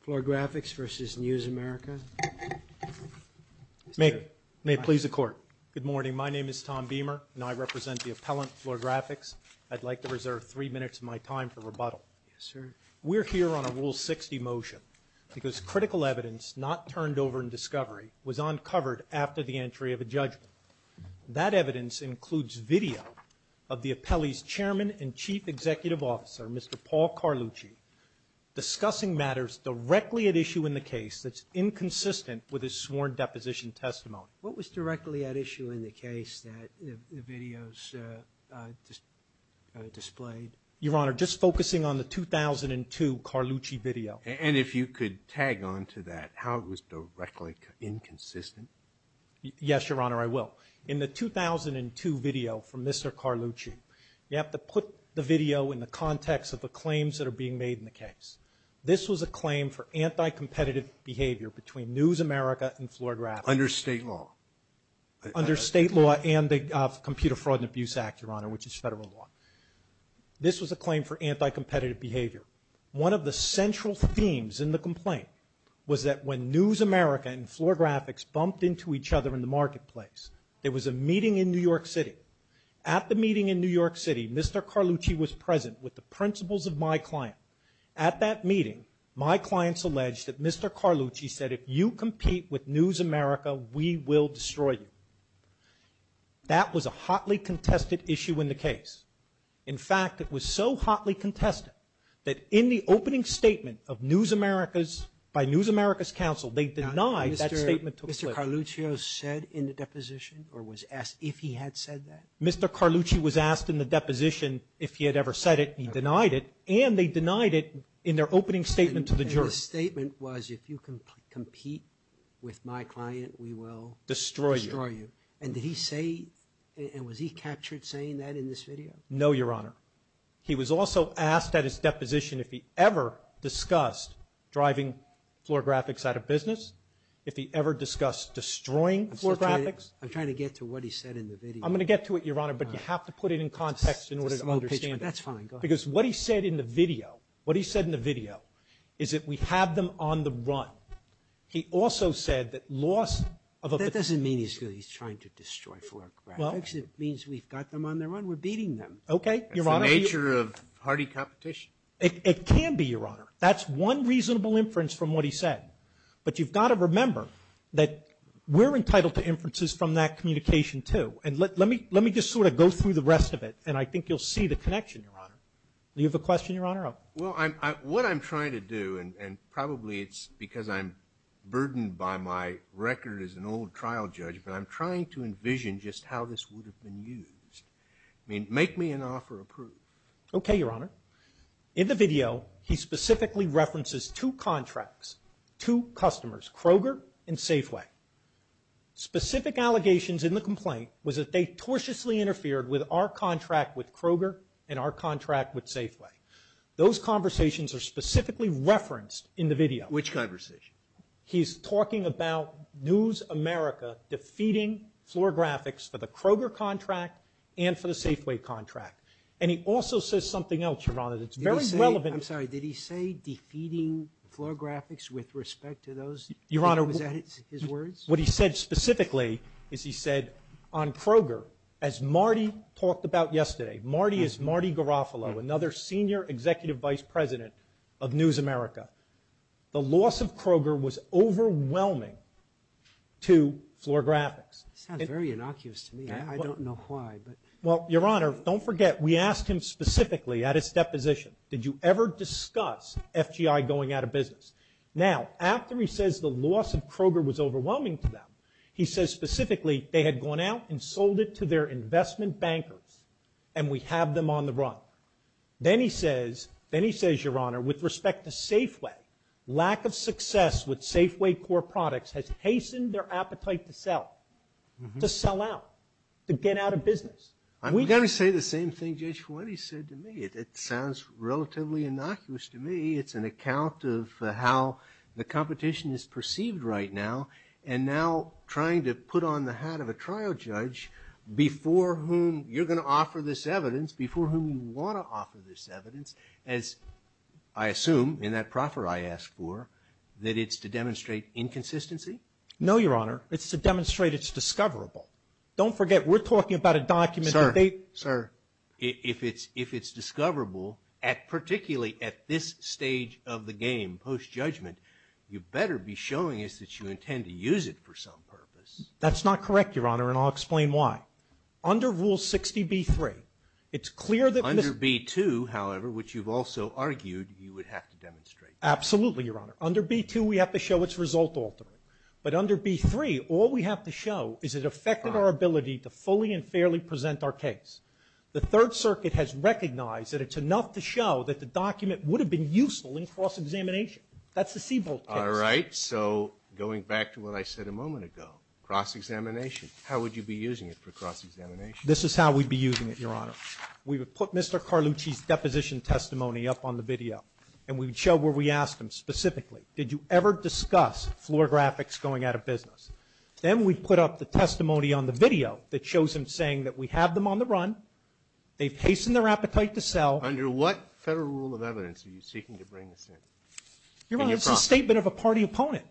Floor Graphics v. News America May it please the Court. Good morning. My name is Tom Beamer and I represent the appellant, Floor Graphics. I'd like to reserve three minutes of my time for rebuttal. Yes, sir. We're here on a Rule 60 motion because critical evidence not turned over in discovery was uncovered after the entry of a judgment. That evidence includes video of the video of Mr. Carlucci discussing matters directly at issue in the case that's inconsistent with his sworn deposition testimony. What was directly at issue in the case that the videos displayed? Your Honor, just focusing on the 2002 Carlucci video. And if you could tag on to that, how it was directly inconsistent? Yes, Your Honor, I will. In the 2002 video from Mr. Carlucci, you have to put the video in the context of the claims that are being made in the case. This was a claim for anti-competitive behavior between News America and Floor Graphics. Under state law? Under state law and the Computer Fraud and Abuse Act, Your Honor, which is federal law. This was a claim for anti-competitive behavior. One of the central themes in the complaint was that when News America and Floor Graphics bumped into each other in the marketplace, there was a meeting in New York City. At the meeting in New York City, Mr. Carlucci was present with the principles of my client. At that meeting, my clients alleged that Mr. Carlucci said, if you compete with News America, we will destroy you. That was a hotly contested issue in the case. In fact, it was so hotly contested that in the opening statement of the video, Mr. Carlucci was asked in the deposition if he had ever said it. He denied it, and they denied it in their opening statement to the jury. The statement was, if you compete with my client, we will destroy you. And did he say, and was he captured saying that in this video? No, Your Honor. He was also asked at his deposition if he ever discussed driving Floor Graphics out of business, if he ever discussed destroying Floor Graphics. I'm trying to get to what he said in the video. I'm going to get to it, Your Honor, but you have to put it in context in order to understand it. That's fine. Go ahead. Because what he said in the video, what he said in the video is that we have them on the run. He also said that loss of a That doesn't mean he's trying to destroy Floor Graphics. It means we've got them on the run. We're beating them. That's the nature of hardy competition. It can be, Your Honor. That's one reasonable inference from what he said. But you've got to remember that we're entitled to inferences from that communication, too. And let me just sort of go through the rest of it, and I think you'll see the connection, Your Honor. Do you have a question, Your Honor? Well, what I'm trying to do, and probably it's because I'm burdened by my record as an old trial judge, but I'm trying to envision just how this would have been used. I mean, make me an offer approved. Okay, Your Honor. In the video, he specifically references two contracts, two customers, Kroger and Safeway. Specific allegations in the complaint was that they tortiously interfered with our contract with Kroger and our contract with Safeway. Those conversations are specifically referenced in the video. Which conversation? He's talking about News America defeating Florographics for the Kroger contract and for the Safeway contract. And he also says something else, Your Honor, that's very relevant. I'm sorry. Did he say defeating Florographics with respect to those? Your Honor. Was that his words? What he said specifically is he said on Kroger, as Marty talked about yesterday, Marty is Marty Garofalo, another senior executive vice president of News America. The loss of Kroger was overwhelming to Florographics. Sounds very innocuous to me. I don't know why. Well, Your Honor, don't forget, we asked him specifically at his deposition, did you ever discuss FGI going out of business? Now, after he says the loss of Kroger was overwhelming to them, he says specifically they had gone out and sold it to their investment bankers and we have them on the run. Then he says, then he says, Your Honor, with respect to Safeway, lack of success with Safeway core products has hastened their appetite to sell. To sell out. To get out of business. I'm going to say the same thing Judge Fuente said to me. It sounds relatively innocuous to me. It's an account of how the competition is perceived right now and now trying to put on the hat of a trial judge before whom you're going to offer this evidence, before whom you want to offer this evidence, as I assume in that proffer I asked for, that it's to demonstrate inconsistency? No, Your Honor. It's to demonstrate it's discoverable. Don't forget, we're talking about a document. Sir. If it's discoverable, particularly at this stage of the game, post-judgment, you better be showing us that you intend to use it for some purpose. That's not correct, Your Honor, and I'll explain why. Under Rule 60B-3, it's clear that... Under B-2, however, which you've also argued you would have to demonstrate. Absolutely, Your Honor. Under B-2, we have to show it's result altering. But under B-3, all we have to do is show that the document would have been useful in cross-examination. That's the Siebold case. All right. So going back to what I said a moment ago, cross-examination, how would you be using it for cross-examination? This is how we'd be using it, Your Honor. We would put Mr. Carlucci's deposition testimony up on the video, and we would show where we asked him specifically, did you ever discuss floor graphics going out of business? Then we'd put up the testimony on the video that shows him saying that we have them on the run. They've hastened their appetite to sell. Under what federal rule of evidence are you seeking to bring this in? Your Honor, it's a statement of a party opponent.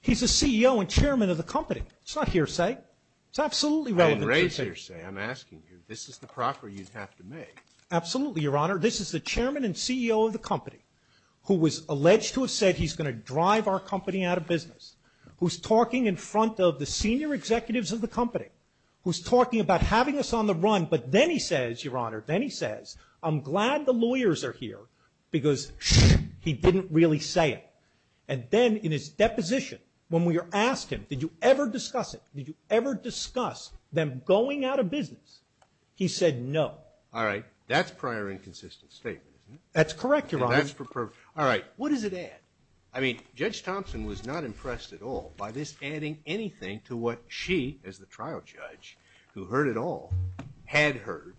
He's the CEO and chairman of the company. It's not hearsay. It's absolutely relevant to the case. I didn't raise hearsay. I'm asking you. This is the proffer you'd have to make. Absolutely, Your Honor. This is the chairman and CEO of the company who was alleged to have said he's going to drive our company out of business, who's talking in front of the senior executives of the company, who's talking about having us on the run. But then he says, Your Honor, then he says, I'm glad the lawyers are here because he didn't really say it. And then in his deposition, when we asked him, did you ever discuss it? Did you ever discuss them going out of business? He said no. All right. That's prior inconsistent statement, isn't it? That's correct, Your Honor. All right. What does it add? I mean, Judge Thompson was not impressed at all by this adding anything to what she, as the trial judge who heard it all, had heard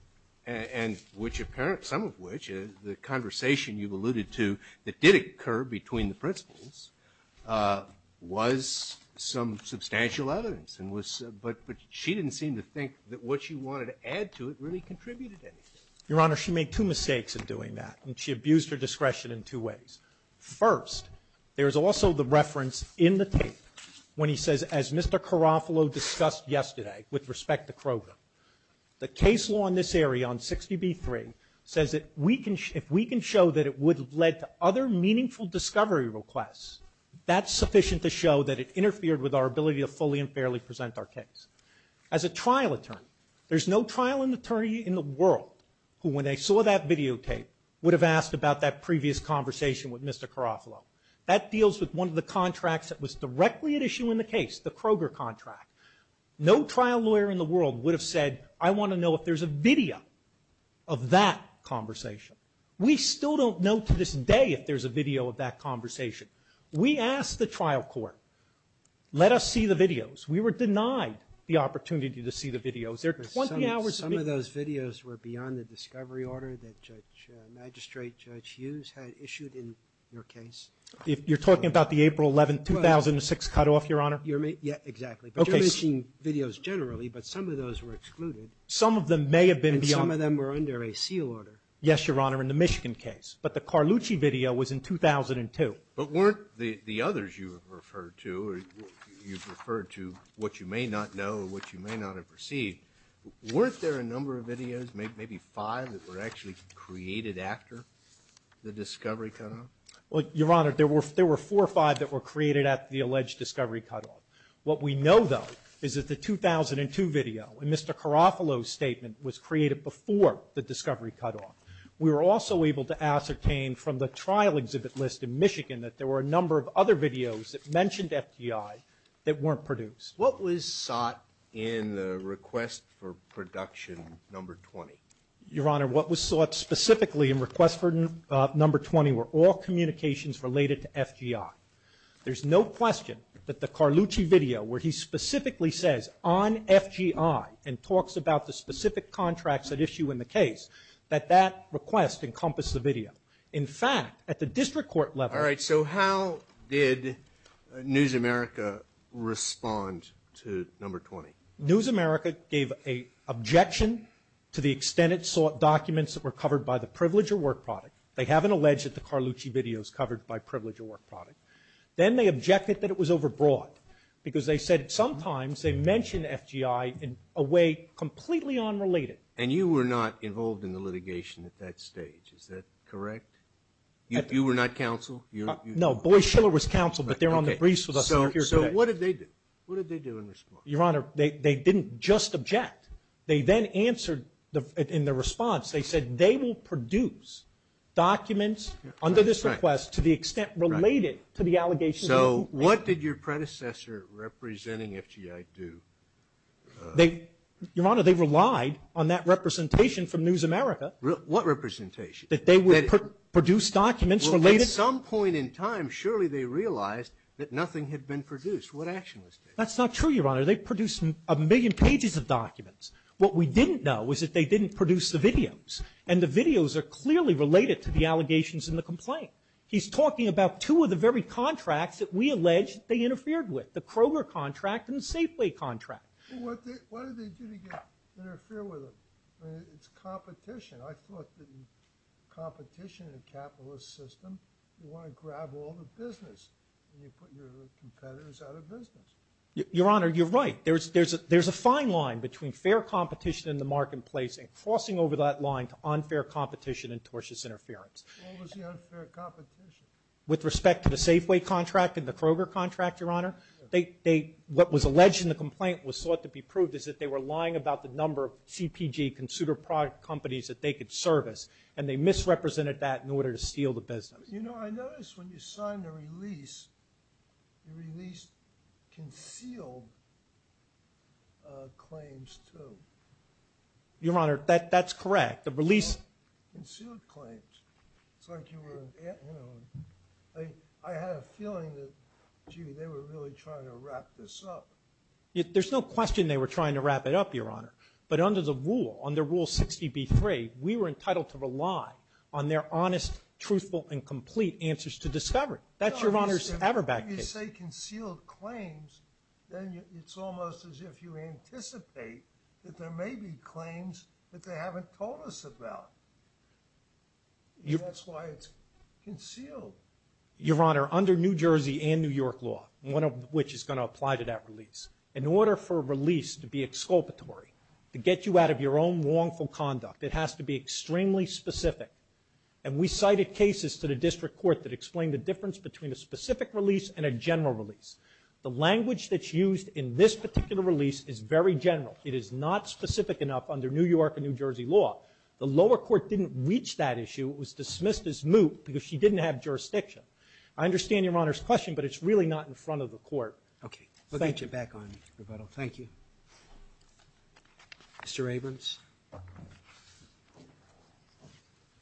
and which apparent, some of which is the conversation you've alluded to that did occur between the principles was some substantial evidence. But she didn't seem to think that what she wanted to add to it really contributed anything. Your Honor, she made two mistakes in doing that, and she abused her discretion in two ways. First, there is also the reference in the tape when he says, as Mr. Carofalo discussed yesterday with respect to Kroger, the case law in this area on 60B3 says that if we can show that it would have led to other meaningful discovery requests, that's sufficient to show that it interfered with our ability to fully and fairly present our case. As a trial attorney, there's no trial attorney in the world who, when they saw that videotape, would have asked about that previous conversation with Mr. Carofalo. That deals with one of the contracts that was directly at issue in the case, the Kroger contract. No trial lawyer in the world would have said, I want to know if there's a video of that conversation. We still don't know to this day if there's a video of that conversation. We asked the trial court, let us see the videos. We were denied the opportunity to see the videos. Some of those videos were beyond the discovery order that Magistrate Judge Hughes had issued in your case. You're talking about the April 11, 2006 cutoff, Your Honor? Yeah, exactly. But you're mentioning videos generally, but some of those were excluded. Some of them may have been beyond. And some of them were under a seal order. Yes, Your Honor, in the Michigan case. But the Carlucci video was in 2002. But weren't the others you referred to, what you may not know, what you may not have received, weren't there a number of videos, maybe five that were actually created after the discovery cutoff? Well, Your Honor, there were four or five that were created after the alleged discovery cutoff. What we know, though, is that the 2002 video in Mr. Carofalo's statement was created before the discovery cutoff. We were also able to ascertain from the trial exhibit list in Michigan that there were a number of other videos that mentioned FDI that weren't produced. What was sought in the request for production number 20? Your Honor, what was sought specifically in request for number 20 were all communications related to FDI. There's no question that the Carlucci video, where he specifically says on FDI and talks about the specific contracts at issue in the case, that that request encompassed the video. In fact, at the district court level. All right, so how did they get to number 20? News America gave an objection to the extent it sought documents that were covered by the Privilege of Work product. They haven't alleged that the Carlucci video is covered by Privilege of Work product. Then they objected that it was overbroad, because they said sometimes they mentioned FDI in a way completely unrelated. And you were not involved in the litigation at that stage, is that correct? You were not counsel? No, Boy Schiller was counsel, but they're on the briefs with us. So what did they do? Your Honor, they didn't just object. They then answered in their response, they said they will produce documents under this request to the extent related to the allegations. So what did your predecessor representing FDI do? Your Honor, they relied on that representation from a point in time. Surely they realized that nothing had been produced. What action was taken? That's not true, Your Honor. They produced a million pages of documents. What we didn't know was that they didn't produce the videos. And the videos are clearly related to the allegations in the complaint. He's talking about two of the very contracts that we allege they interfered with, the Kroger contract and the Safeway contract. Well, what did they do to interfere with them? It's competition. I thought that competition in the capitalist system, you want to grab all the business and you put your competitors out of business. Your Honor, you're right. There's a fine line between fair competition in the marketplace and crossing over that line to unfair competition and tortious interference. What was the unfair competition? With respect to the Safeway contract and the Kroger contract, Your Honor, what was alleged in the complaint was thought to be proved is that they were lying about the number of CPG consumer product companies that they could service. And they misrepresented that in order to steal the business. You know, I noticed when you signed the release, you released concealed claims too. Your Honor, that's correct. The release... Concealed claims. It's like you were, you know, I had a feeling that, gee, they were really trying to wrap this up. There's no question they were trying to wrap it up, Your Honor. But under the rule, under Rule 60B-3, we were entitled to rely on their honest, truthful and complete answers to discovery. That's Your Honor's Everback case. When you say concealed claims, then it's almost as if you anticipate that there may be claims that they haven't told us about. That's why it's concealed. Your Honor, under New Jersey and New York law, one of which is going to apply to that release, in order for a release to be exculpatory, to get you out of your own wrongful conduct, it has to be extremely specific. And we cited cases to the district court that explained the difference between a specific release and a general release. The language that's used in this particular release is very general. It is not specific enough under New York and New Jersey law. The lower court didn't reach that issue. It was dismissed as moot because she didn't have jurisdiction. I understand Your Honor's question, but it's really not in front of the court. Thank you. Mr. Abrams.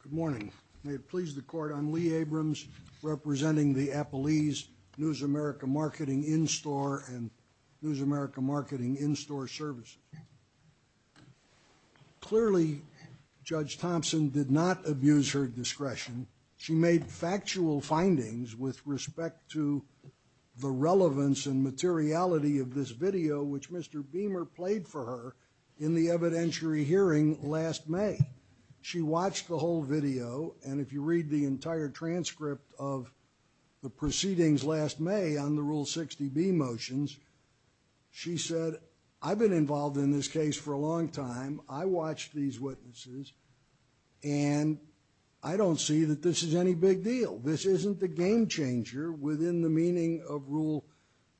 Good morning. May it please the court, I'm Lee Abrams, representing the Appalese News America Marketing In-Store and News America Marketing In-Store Services. Clearly, Judge Thompson did not abuse her discretion. She made factual findings with respect to the relevance and significance of the rule 60B motions. She said, I've been involved in this case for a long time. I watched these witnesses and I don't see that this is any big deal. This isn't the game changer within the meaning of rule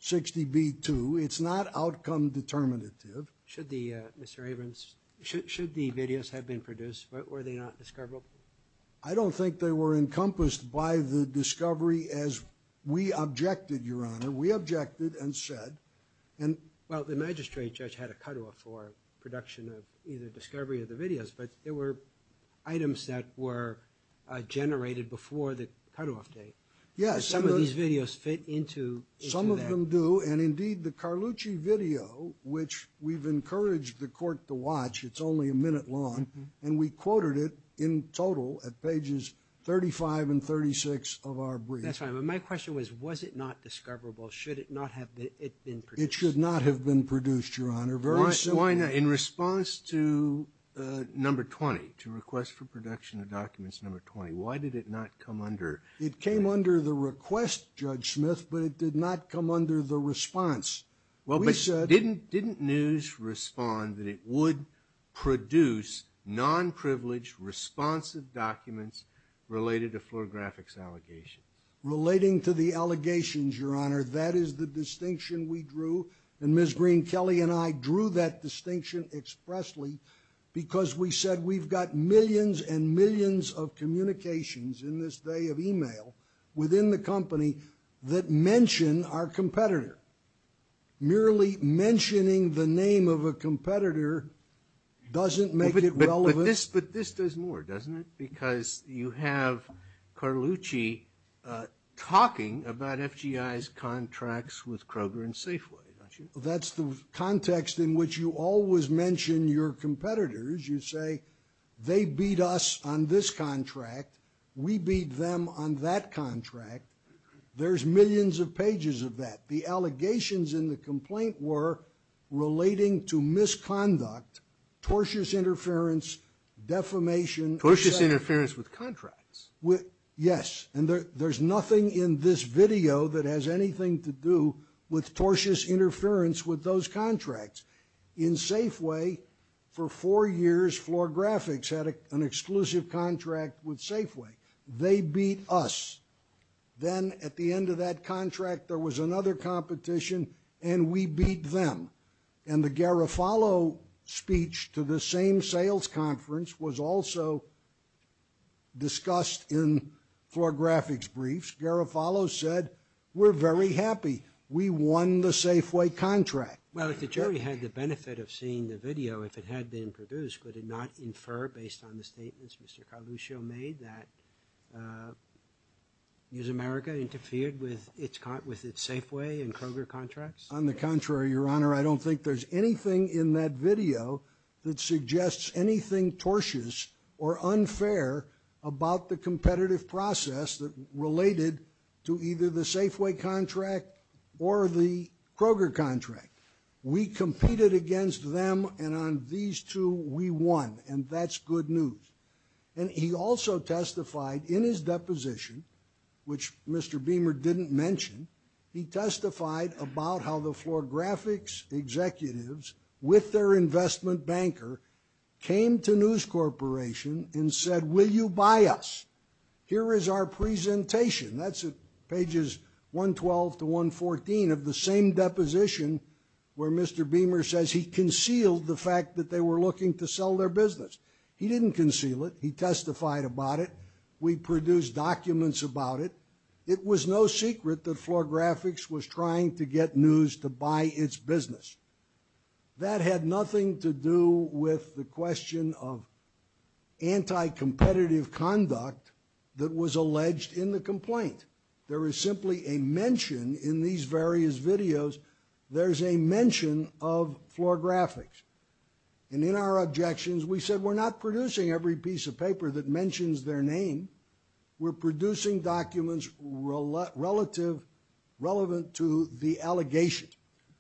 60B-2. It's not outcome determinative. Mr. Abrams, should the videos have been produced, were they not discoverable? I don't think they were encompassed by the discovery as we objected, Your Honor. We objected and said... Well, the magistrate judge had a cutoff for production of either discovery of the videos, but there were items that were generated before the cutoff date. Some of these videos fit into that. Some of them do, and indeed the Carlucci video, which we've encouraged the court to watch, it's only a minute long, and we quoted it in total at pages 35 and 36 of our brief. That's right, but my question was, was it not discoverable? Should it not have been produced? Why not? In response to number 20, to request for production of documents number 20, why did it not come under... It came under the request, Judge Smith, but it did not come under the response. Didn't news respond that it would produce non-privileged, responsive documents related to fluorographics allegations? Relating to the allegations, Your Honor, that is the distinction we drew. And Ms. Green, Kelly, and I drew that distinction expressly because we said we've got millions and millions of communications in this day of e-mail within the company that mention our competitor. Merely mentioning the name of a competitor doesn't make it relevant. But this does more, doesn't it? Because you have Carlucci talking about FGI's contracts with Kroger and Safeway, don't you? That's the context in which you always mention your competitors. You say, they beat us on this contract. We beat them on that contract. There's millions of pages of that. The allegations in the complaint were relating to misconduct, tortious interference, defamation... Tortious interference with contracts. Yes, and there's nothing in this video that has anything to do with tortious interference with those contracts. In Safeway, for four years, Fluorographics had an exclusive contract with Safeway. They beat us. Then, at the end of that contract, there was another competition, and we beat them. And the Garofalo speech to the same sales conference was also discussed in Fluorographics briefs. Garofalo said, we're very happy. We won the Safeway contract. Well, if the jury had the benefit of seeing the video, if it had been produced, could it not infer, based on the statements Mr. Carluccio made, that News America interfered with its Safeway and Kroger contracts? On the contrary, Your Honor. I don't think there's anything in that video that suggests anything tortious or unfair about the competitive process related to either the Safeway contract or the Kroger contract. We competed against them, and on these two, we won. And that's good news. And he also testified in his deposition, which Mr. Beamer didn't mention, he testified about how the Fluorographics executives, with their investment banker, came to News Corporation and said, will you buy us? Here is our presentation. That's at pages 112 to 114 of the same deposition where Mr. Beamer says he concealed the fact that they were looking to sell their business. He didn't conceal it. He testified about it. We produced documents about it. It was no secret that Fluorographics was trying to get News to buy its business. That had nothing to do with the question of anti-competitive conduct that was alleged in the complaint. There is simply a mention in these various videos, there's a mention of Fluorographics. And in our objections, we said we're not producing every piece of paper that mentions their name. We're producing documents relative, relevant to the allegations.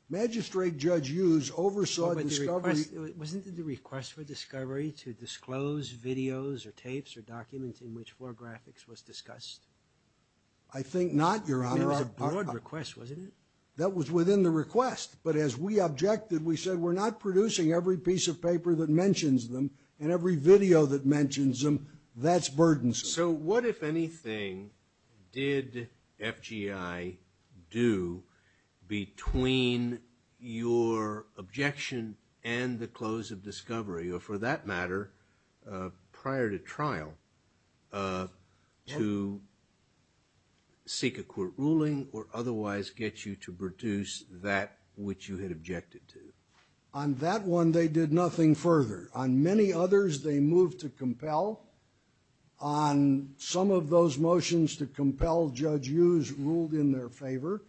Magistrate Judge Hughes oversaw the discovery. Wasn't it the request for discovery to disclose videos or tapes or documents in which Fluorographics was discussed? I think not, Your Honor. It was a broad request, wasn't it? That was within the request. But as we objected, we said, we're not producing every piece of paper that mentions them and every video that mentions them. That's burdensome. So what, if anything, did FGI do between your objection and the close of discovery, or for that matter, prior to trial, to seek a court ruling or otherwise get you to produce that which you had objected to? On that one, they did nothing further. On many others, they moved to compel. On some of those motions to compel, Judge Hughes ruled in their favor,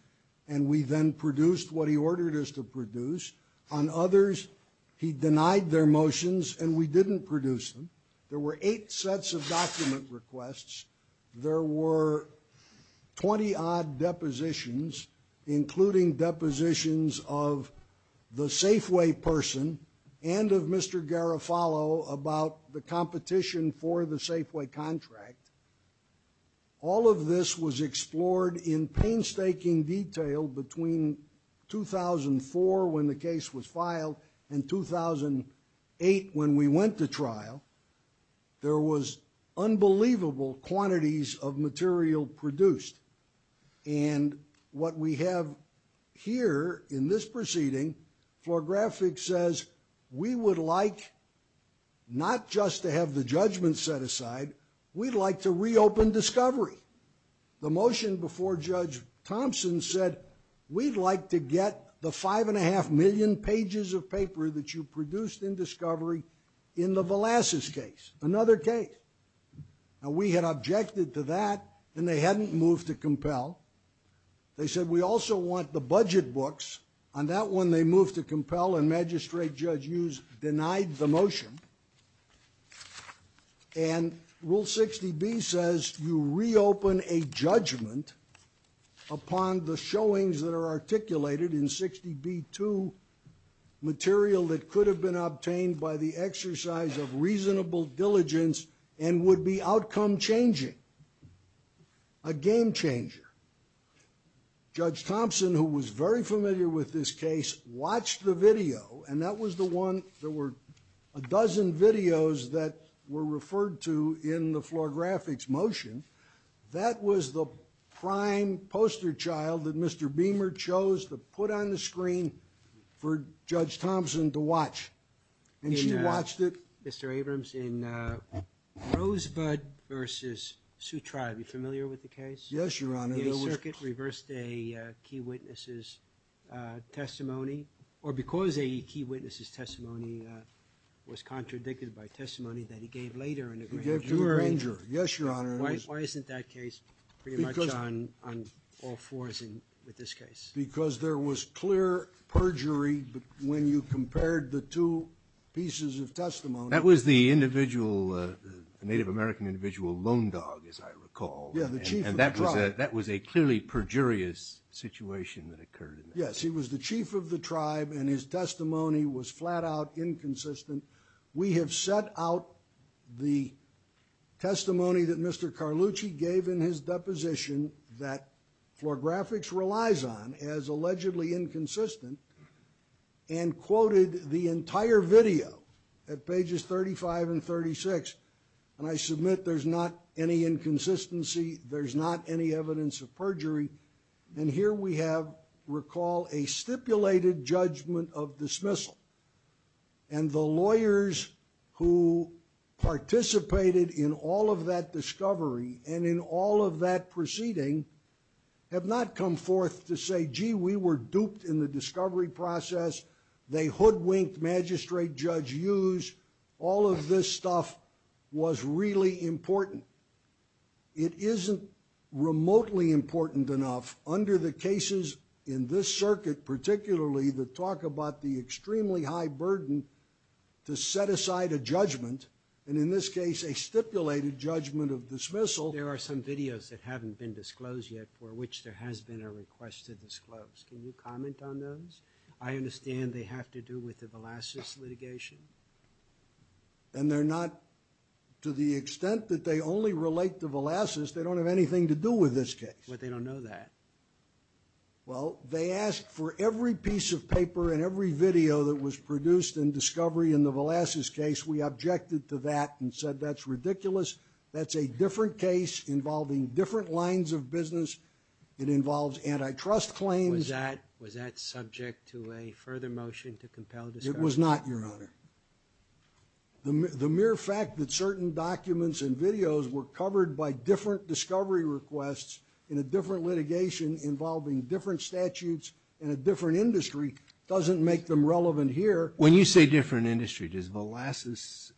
and we then produced what he ordered us to produce. On others, he denied their motions, and we didn't produce them. There were eight sets of document requests. There were 20-odd depositions, including depositions of the Safeway person and of Mr. Garofalo about the competition for the Safeway contract. All of this was explored in painstaking detail between 2004, when the case was filed, and 2008, when we went to trial. There was unbelievable quantities of material produced, and what we have here in this proceeding, floor graphics says, we would like not just to have the judgment set aside, we'd like to reopen discovery. The motion before Judge Thompson said, we'd like to get the five and a half million pages of paper that you produced in discovery in the Velazquez case, another case. Now, we had objected to that, and they hadn't moved to compel. They said, we also want the budget books. On that one, they moved to compel, and Magistrate Judge Hughes denied the motion. And Rule 60B says, you reopen a judgment upon the showings that are articulated in 60B2 material that could have been obtained by the exercise of reasonable diligence and would be outcome changing, a game changer. Judge Thompson, who was very familiar with this case, watched the video, and that was the one, there were a dozen videos that were referred to in the floor graphics motion. That was the prime poster child that Mr. Beamer chose to put on the screen for Judge Thompson to watch, and she watched it. Mr. Abrams, in Rosebud v. Sioux Tribe, are you familiar with the case? Yes, Your Honor. The 8th Circuit reversed a key witness' testimony, or because a key witness' testimony was contradicted by testimony that he gave later. Yes, Your Honor. Why isn't that case pretty much on all fours with this case? Because there was clear perjury when you compared the two pieces of testimony. That was the Native American individual, Lone Dog, as I recall. Yeah, the chief of the tribe. And that was a clearly perjurious situation that occurred. Yes, he was the chief of the tribe, and his testimony was flat-out inconsistent. We have set out the testimony that Mr. Carlucci gave in his deposition that floor graphics relies on as allegedly inconsistent and quoted the entire video at pages 35 and 36, and I submit there's not any inconsistency, there's not any evidence of perjury, and here we have, recall, a stipulated judgment of dismissal. And the lawyers who participated in all of that discovery and in all of that proceeding have not come forth to say, gee, we were duped in the discovery process. They hoodwinked Magistrate Judge Hughes. All of this stuff was really important. It isn't remotely important enough under the cases in this circuit, particularly the talk about the extremely high burden to set aside a judgment, and in this case a stipulated judgment of dismissal. There are some videos that haven't been disclosed yet for which there has been a request to disclose. Can you comment on those? I understand they have to do with the Velazquez litigation. And they're not, to the extent that they only relate to Velazquez, they don't have anything to do with this case. But they don't know that. Well, they asked for every piece of paper and every video that was produced in discovery in the Velazquez case. We objected to that and said that's ridiculous. That's a different case involving different lines of business. It involves antitrust claims. Was that subject to a further motion to compel discovery? It was not, Your Honor. The mere fact that certain documents and videos were covered by different discovery requests in a different litigation involving different statutes in a different industry doesn't make them relevant here. When you say different industry, does Velazquez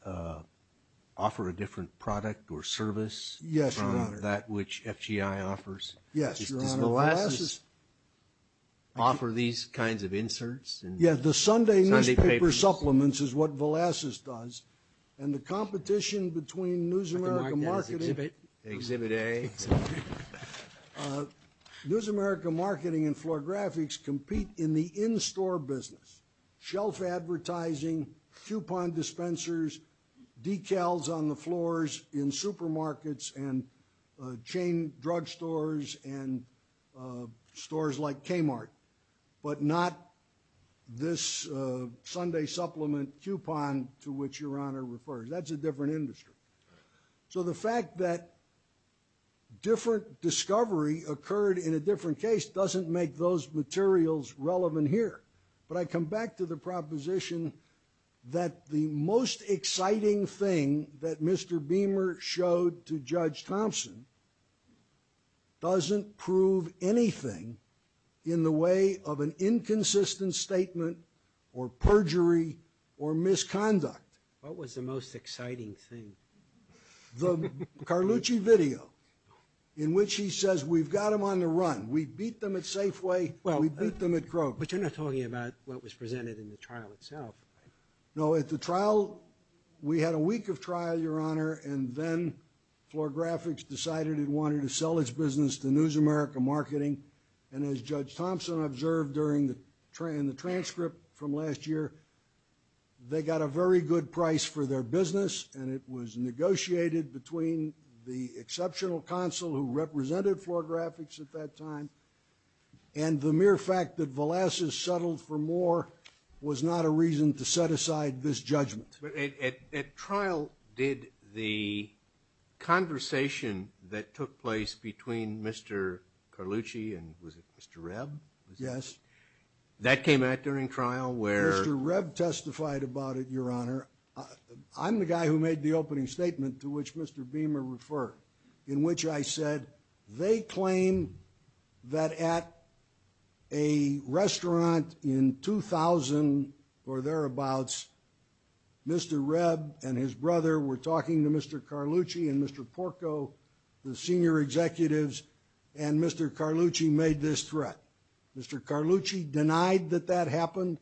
offer a different product or service? Yes, Your Honor. From that which FGI offers? Yes, Your Honor. Does Velazquez offer these kinds of inserts? Yes, the Sunday newspaper supplements is what Velazquez does. And the competition between News America Marketing Exhibit A. News America Marketing and Floor Graphics compete in the in-store business, shelf advertising, coupon dispensers, decals on the floors in supermarkets and chain drugstores and stores like Kmart, but not this Sunday supplement coupon to which Your Honor refers. That's a different industry. So the fact that different discovery occurred in a different case doesn't make those materials relevant here. But I come back to the proposition that the most exciting thing that Mr. Beamer showed to Judge Thompson doesn't prove anything in the way of an inconsistent statement or perjury or misconduct. What was the most exciting thing? The Carlucci video in which he says, We've got them on the run. We beat them at Safeway. We beat them at Kroger. But you're not talking about what was presented in the trial itself. No, at the trial, we had a week of trial, Your Honor, and then Floor Graphics decided it wanted to sell its business to News America Marketing. And as Judge Thompson observed in the transcript from last year, they got a very good price for their business, and it was negotiated between the exceptional counsel who represented Floor Graphics at that time and the mere fact that Velasquez settled for more was not a reason to set aside this judgment. At trial, did the conversation that took place between Mr. Carlucci and was it Mr. Reb? Yes. That came out during trial where Mr. Reb testified about it, Your Honor. I'm the guy who made the opening statement to which Mr. Beamer referred in which I said they claim that at a restaurant in 2000 or thereabouts, Mr. Reb and his brother were talking to Mr. Carlucci and Mr. Porco, the senior executives, and Mr. Carlucci made this threat. Mr. Carlucci denied that that happened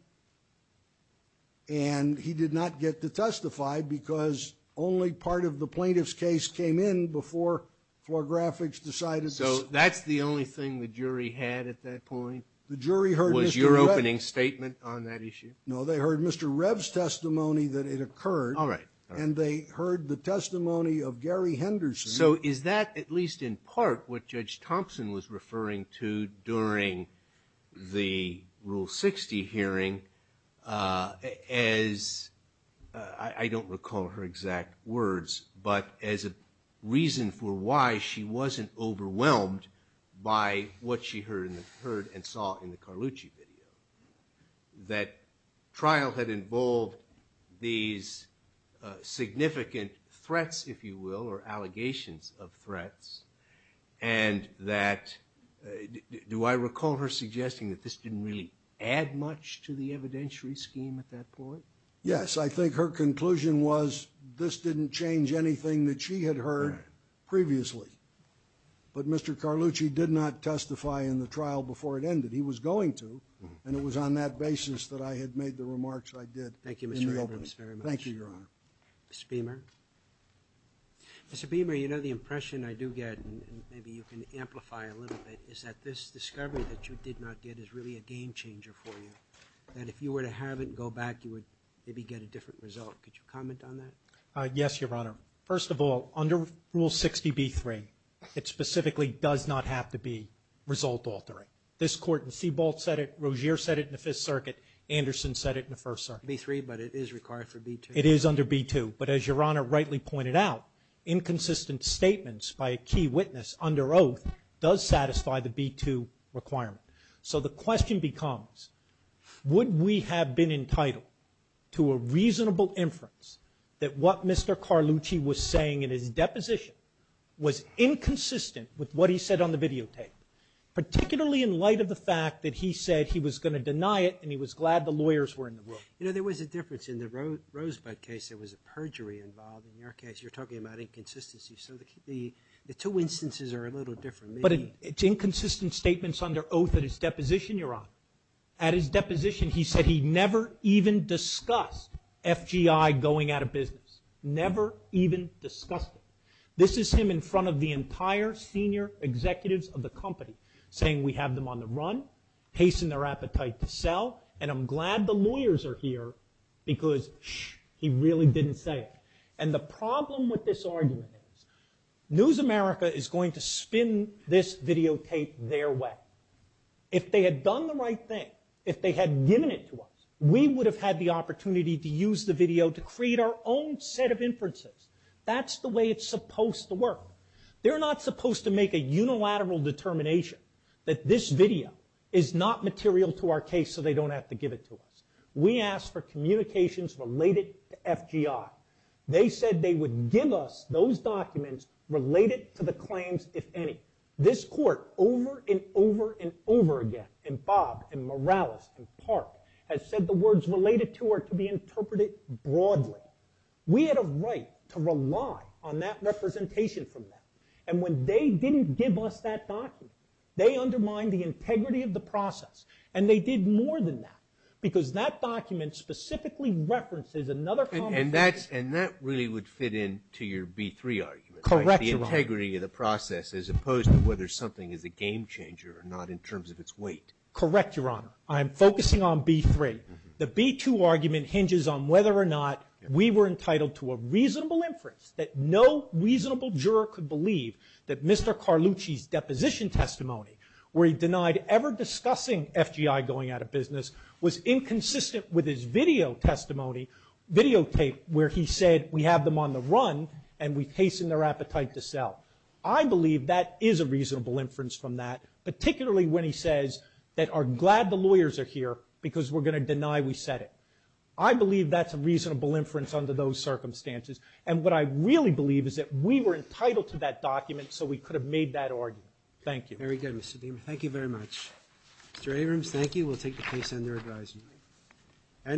and he did not get to testify because only part of the plaintiff's case came in before Floor Graphics decided. So that's the only thing the jury had at that point? The jury heard Mr. Reb. Was your opening statement on that issue? No, they heard Mr. Reb's testimony that it occurred. All right. And they heard the testimony of Gary Henderson. So is that at least in part what Judge Thompson was referring to during the Rule 60 hearing as I don't recall her exact words but as a reason for why she wasn't overwhelmed by what she heard and saw in the Carlucci video, that trial had involved these significant threats, if you will, or allegations of threats, and that do I recall her suggesting that this didn't really add much to the evidentiary scheme at that point? Yes, I think her conclusion was this didn't change anything that she had heard previously. But Mr. Carlucci did not testify in the trial before it ended. He was going to, and it was on that basis that I had made the remarks I did. Thank you, Mr. Reb. Thank you, Your Honor. Mr. Beamer? Mr. Beamer, you know the impression I do get, and maybe you can amplify it a little bit, is that this discovery that you did not get is really a game-changer for you, that if you were to have it and go back, you would maybe get a different result. Could you comment on that? Yes, Your Honor. First of all, under Rule 60b-3, it specifically does not have to be result-altering. This Court in Seabolt said it, Rozier said it in the Fifth Circuit, Anderson said it in the First Circuit. Rule 60b-3, but it is required for B-2. It is under B-2. But as Your Honor rightly pointed out, inconsistent statements by a key witness under oath does satisfy the B-2 requirement. So the question becomes, would we have been entitled to a reasonable inference that what Mr. Carlucci was saying in his deposition was inconsistent with what he said on the videotape, particularly in light of the fact that he said he was going to deny it and he was glad the lawyers were in the room. You know, there was a difference. In the Rosebud case, there was a perjury involved. In your case, you're talking about inconsistency. So the two instances are a little different. But it's inconsistent statements under oath in his deposition, Your Honor. At his deposition, he said he never even discussed FGI going out of business, never even discussed it. This is him in front of the entire senior executives of the company, saying we have them on the run, hasten their appetite to sell, and I'm glad the lawyers are here because, shh, he really didn't say it. And the problem with this argument is News America is going to spin this videotape their way. If they had done the right thing, if they had given it to us, we would have had the opportunity to use the video to create our own set of inferences. That's the way it's supposed to work. They're not supposed to make a unilateral determination that this video is not material to our case so they don't have to give it to us. We asked for communications related to FGI. They said they would give us those documents related to the claims, if any. This court over and over and over again, and Bob and Morales and Park, has said the words related to are to be interpreted broadly. We had a right to rely on that representation from them. And when they didn't give us that document, they undermined the integrity of the process, and they did more than that because that document specifically references another conversation. And that really would fit into your B-3 argument. Correct, Your Honor. The integrity of the process as opposed to whether something is a game changer or not in terms of its weight. Correct, Your Honor. I am focusing on B-3. The B-2 argument hinges on whether or not we were entitled to a reasonable inference that no reasonable juror could believe that Mr. Carlucci's deposition testimony, where he denied ever discussing FGI going out of business, was inconsistent with his video testimony, videotape, where he said we have them on the run and we hasten their appetite to sell. I believe that is a reasonable inference from that, because we're going to deny we said it. I believe that's a reasonable inference under those circumstances, and what I really believe is that we were entitled to that document so we could have made that argument. Thank you. Very good, Mr. Deamer. Thank you very much. Mr. Abrams, thank you. We'll take the case under advisory.